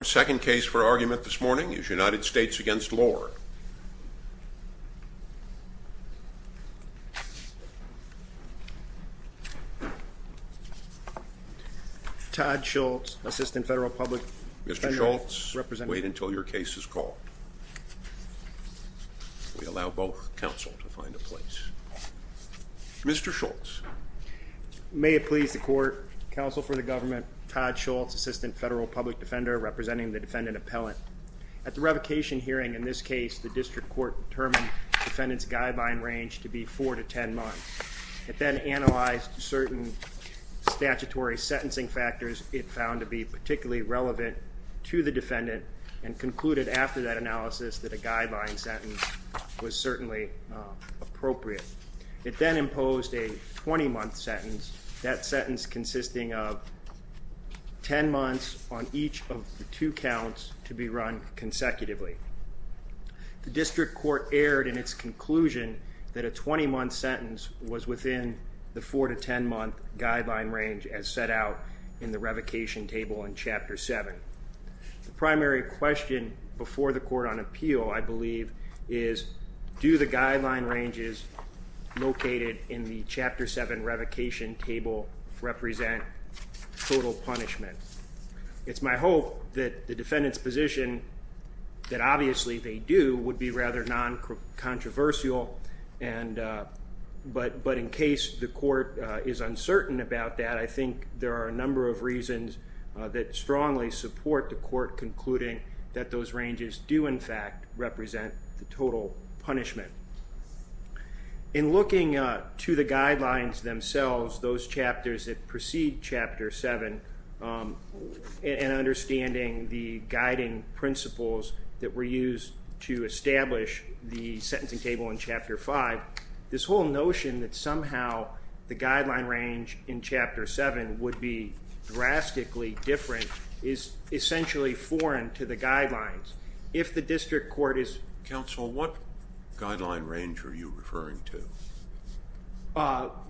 The second case for argument this morning is United States v. Lore. Todd Schultz, Assistant Federal Public Defender. Mr. Schultz, wait until your case is called. We allow both counsel to find a place. Mr. Schultz. May it please the court, counsel for the government, Todd Schultz, Assistant Federal Public Defender, representing the defendant appellant. At the revocation hearing in this case, the district court determined the defendant's guideline range to be four to ten months. It then analyzed certain statutory sentencing factors it found to be particularly relevant to the defendant and concluded after that analysis that a guideline sentence was certainly appropriate. It then imposed a twenty-month sentence, that sentence consisting of ten months on each of the two counts to be run consecutively. The district court erred in its conclusion that a twenty-month sentence was within the four to ten-month guideline range as set out in the revocation table in Chapter 7. The primary question before the court on appeal, I believe, is do the guideline ranges located in the Chapter 7 revocation table represent total punishment? It's my hope that the defendant's position, that obviously they do, would be rather non-controversial, but in case the court is uncertain about that, I think there are a number of reasons that strongly support the court concluding that those ranges do, in fact, represent the total punishment. In looking to the guidelines themselves, those chapters that precede Chapter 7, and understanding the guiding principles that were used to establish the sentencing table in Chapter 5, this whole notion that somehow the guideline range in Chapter 7 would be drastically different is essentially foreign to the guidelines. If the district court is... Counsel, what guideline range are you referring to?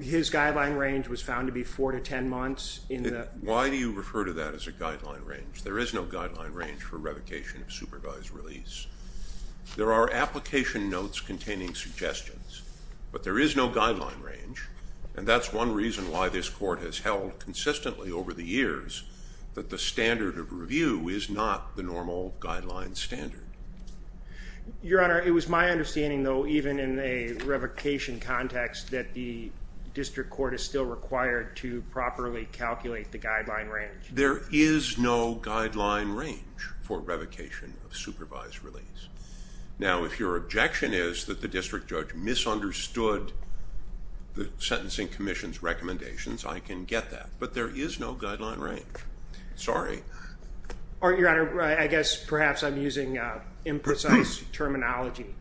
His guideline range was found to be four to ten months in the... Why do you refer to that as a guideline range? There is no guideline range for revocation of supervised release. There are application notes containing suggestions, but there is no guideline range, and that's one reason why this court has held consistently over the years that the standard of review is not the normal guideline standard. Your Honor, it was my understanding, though, even in a revocation context, that the district court is still required to properly calculate the guideline range. There is no guideline range for revocation of supervised release. Now, if your objection is that the district judge misunderstood the Sentencing Commission's recommendations, I can get that, but there is no guideline range. Sorry. Your Honor, I guess perhaps I'm using imprecise terminology.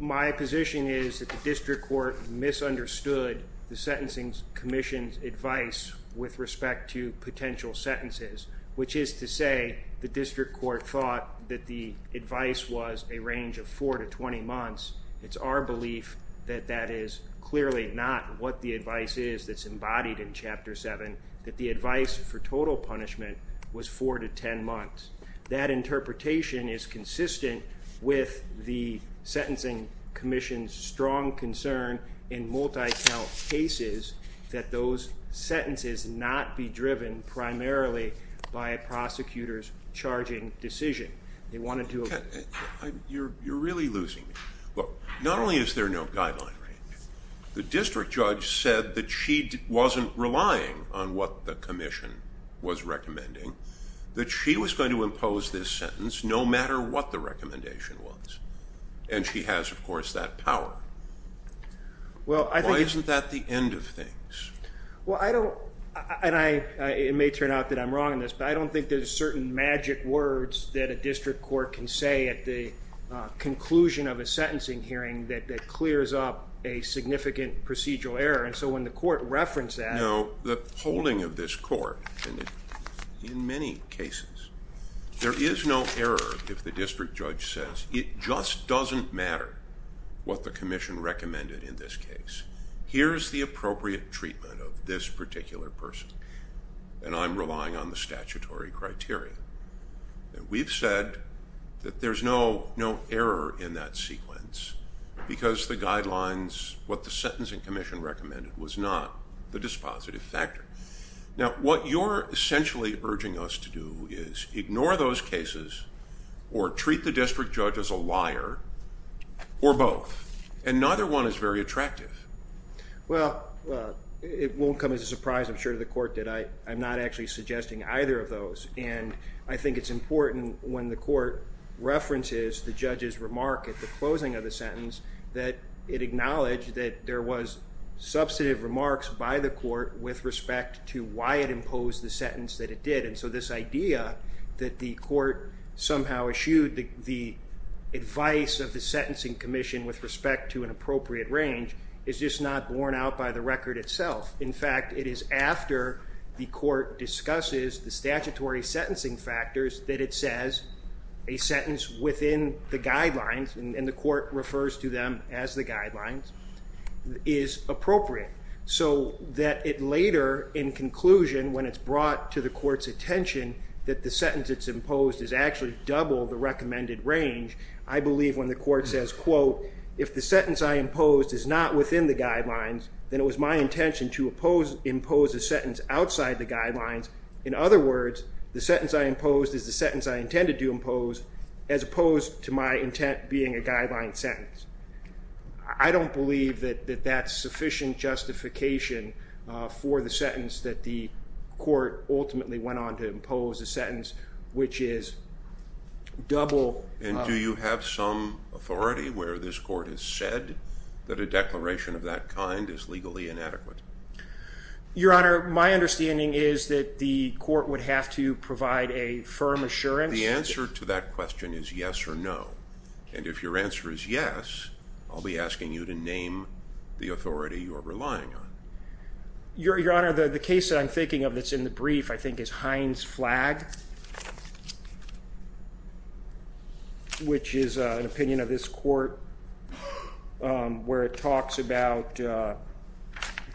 My position is that the district court misunderstood the Sentencing Commission's advice with respect to potential sentences, which is to say the district court thought that the advice was a range of four to twenty months. It's our belief that that is clearly not what the advice is that's embodied in Chapter 7, that the advice for total punishment was four to ten months. That interpretation is consistent with the Sentencing Commission's strong concern in multi-count cases that those sentences not be driven primarily by a prosecutor's charging decision. You're really losing me. Look, not only is there no guideline range, the district judge said that she wasn't relying on what the Commission was recommending, that she was going to impose this sentence no matter what the recommendation was, and she has, of course, that power. Why isn't that the end of things? Well, I don't, and it may turn out that I'm wrong in this, but I don't think there's certain magic words that a district court can say at the conclusion of a sentencing hearing that clears up a significant procedural error, and so when the court referenced that. You know, the holding of this court in many cases, there is no error if the district judge says, it just doesn't matter what the Commission recommended in this case. Here's the appropriate treatment of this particular person, and I'm relying on the statutory criteria. We've said that there's no error in that sequence because the guidelines, what the Sentencing Commission recommended was not the dispositive factor. Now, what you're essentially urging us to do is ignore those cases or treat the district judge as a liar or both, and neither one is very attractive. Well, it won't come as a surprise, I'm sure, to the court that I'm not actually suggesting either of those, and I think it's important when the court references the judge's remark at the closing of the sentence that it acknowledge that there was substantive remarks by the court with respect to why it imposed the sentence that it did, and so this idea that the court somehow eschewed the advice of the Sentencing Commission with respect to an appropriate range is just not borne out by the record itself. In fact, it is after the court discusses the statutory sentencing factors that it says a sentence within the guidelines, and the court refers to them as the guidelines, is appropriate, so that it later, in conclusion, when it's brought to the court's attention that the sentence it's imposed is actually double the recommended range, I believe when the court says, quote, If the sentence I imposed is not within the guidelines, then it was my intention to impose a sentence outside the guidelines. In other words, the sentence I imposed is the sentence I intended to impose as opposed to my intent being a guideline sentence. I don't believe that that's sufficient justification for the sentence that the court ultimately went on to impose, a sentence which is double. And do you have some authority where this court has said that a declaration of that kind is legally inadequate? Your Honor, my understanding is that the court would have to provide a firm assurance. The answer to that question is yes or no, and if your answer is yes, I'll be asking you to name the authority you are relying on. Your Honor, the case that I'm thinking of that's in the brief, I think, is Hines-Flag, which is an opinion of this court where it talks about the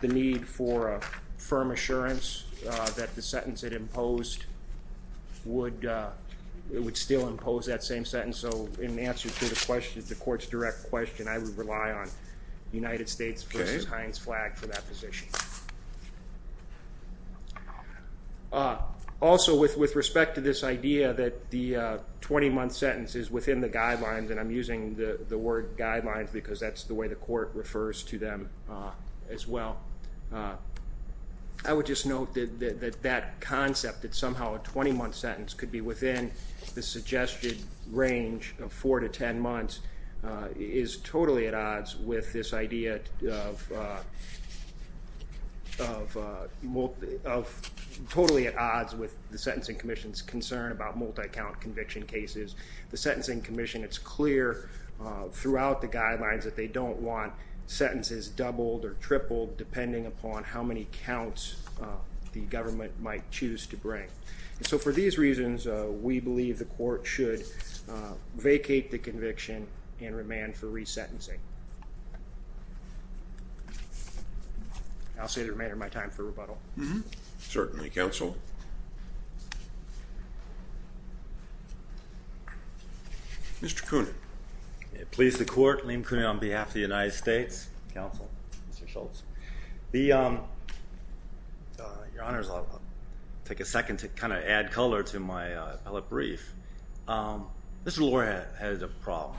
need for a firm assurance that the sentence it imposed would still impose that same sentence. So in answer to the question, the court's direct question, I would rely on United States v. Hines-Flag for that position. Also, with respect to this idea that the 20-month sentence is within the guidelines, and I'm using the word guidelines because that's the way the court refers to them as well, I would just note that that concept that somehow a 20-month sentence could be within the suggested range of 4 to 10 months is totally at odds with the Sentencing Commission's concern about multi-count conviction cases. The Sentencing Commission, it's clear throughout the guidelines that they don't want sentences doubled or tripled depending upon how many counts the government might choose to bring. So for these reasons, we believe the court should vacate the conviction and remand for resentencing. I'll save the remainder of my time for rebuttal. Certainly, counsel. Mr. Coonan. Please the court, Liam Coonan on behalf of the United States, counsel, Mr. Schultz. Your Honors, I'll take a second to kind of add color to my appellate brief. Mr. Lohr has a problem.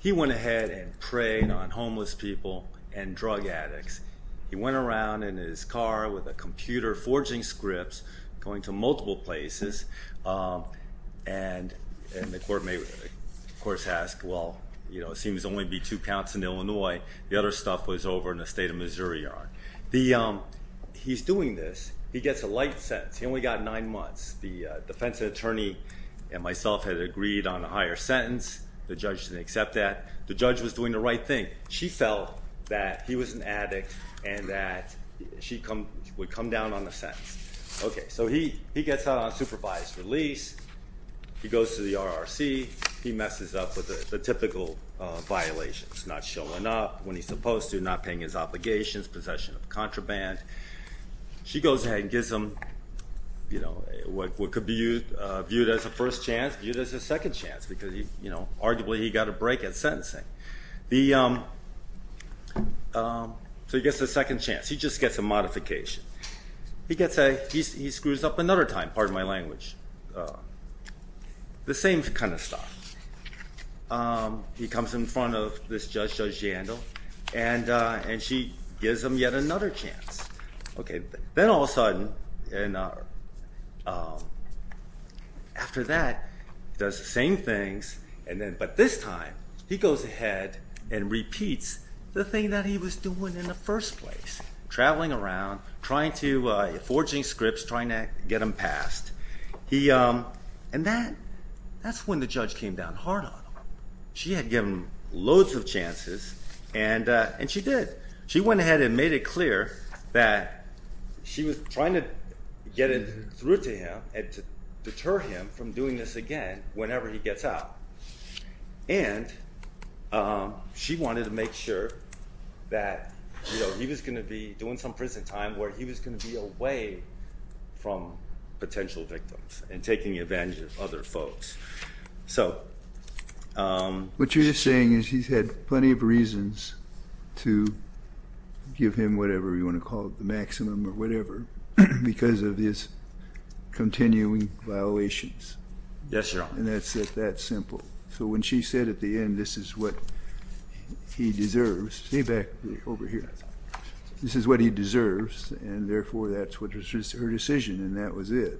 He went ahead and preyed on homeless people and drug addicts. He went around in his car with a computer forging scripts, going to multiple places, and the court may, of course, ask, well, it seems to only be two counts in Illinois. The other stuff was over in the state of Missouri yard. He's doing this. He gets a light sentence. He only got nine months. The defense attorney and myself had agreed on a higher sentence. The judge didn't accept that. The judge was doing the right thing. She felt that he was an addict and that she would come down on the sentence. Okay, so he gets out on supervised release. He goes to the RRC. He messes up with the typical violations, not showing up when he's supposed to, not paying his obligations, possession of contraband. She goes ahead and gives him what could be viewed as a first chance, viewed as a second chance because, arguably, he got a break at sentencing. So he gets a second chance. He just gets a modification. He screws up another time. Pardon my language. The same kind of stuff. He comes in front of this judge, Judge Jandel, and she gives him yet another chance. Then all of a sudden, after that, does the same things, but this time he goes ahead and repeats the thing that he was doing in the first place, traveling around, forging scripts, trying to get him passed. And that's when the judge came down hard on him. She had given him loads of chances, and she did. She went ahead and made it clear that she was trying to get it through to him and to deter him from doing this again whenever he gets out. And she wanted to make sure that he was going to be doing some prison time where he was going to be away from potential victims and taking advantage of other folks. What you're saying is he's had plenty of reasons to give him whatever you want to call it, the maximum or whatever, because of his continuing violations. Yes, Your Honor. And that's that simple. So when she said at the end, this is what he deserves. Stay back over here. This is what he deserves, and therefore that's her decision, and that was it.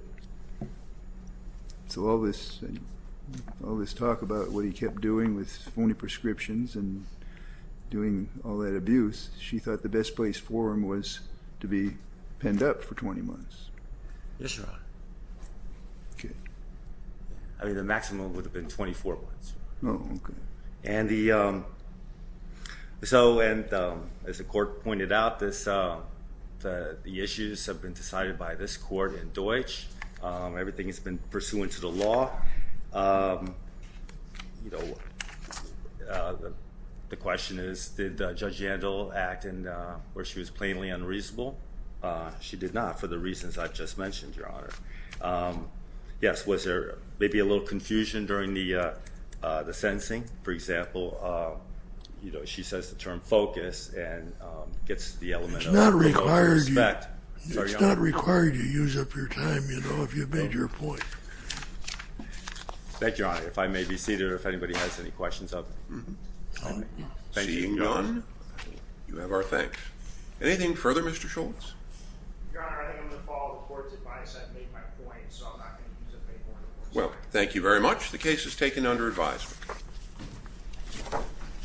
So all this talk about what he kept doing with phony prescriptions and doing all that abuse, she thought the best place for him was to be penned up for 20 months. Yes, Your Honor. Okay. I mean, the maximum would have been 24 months. Oh, okay. And as the court pointed out, the issues have been decided by this court in Deutsch. Everything has been pursuant to the law. The question is, did Judge Yandel act where she was plainly unreasonable? She did not for the reasons I've just mentioned, Your Honor. Yes, was there maybe a little confusion during the sentencing? For example, you know, she says the term focus and gets the element of respect. It's not required you use up your time, you know, if you've made your point. Thank you, Your Honor. If I may be seated or if anybody has any questions of me. Seeing none, you have our thanks. Anything further, Mr. Schultz? Your Honor, I think I'm going to follow the court's advice. I've made my point, so I'm not going to use a fake one. Well, thank you very much. The case is taken under advisement.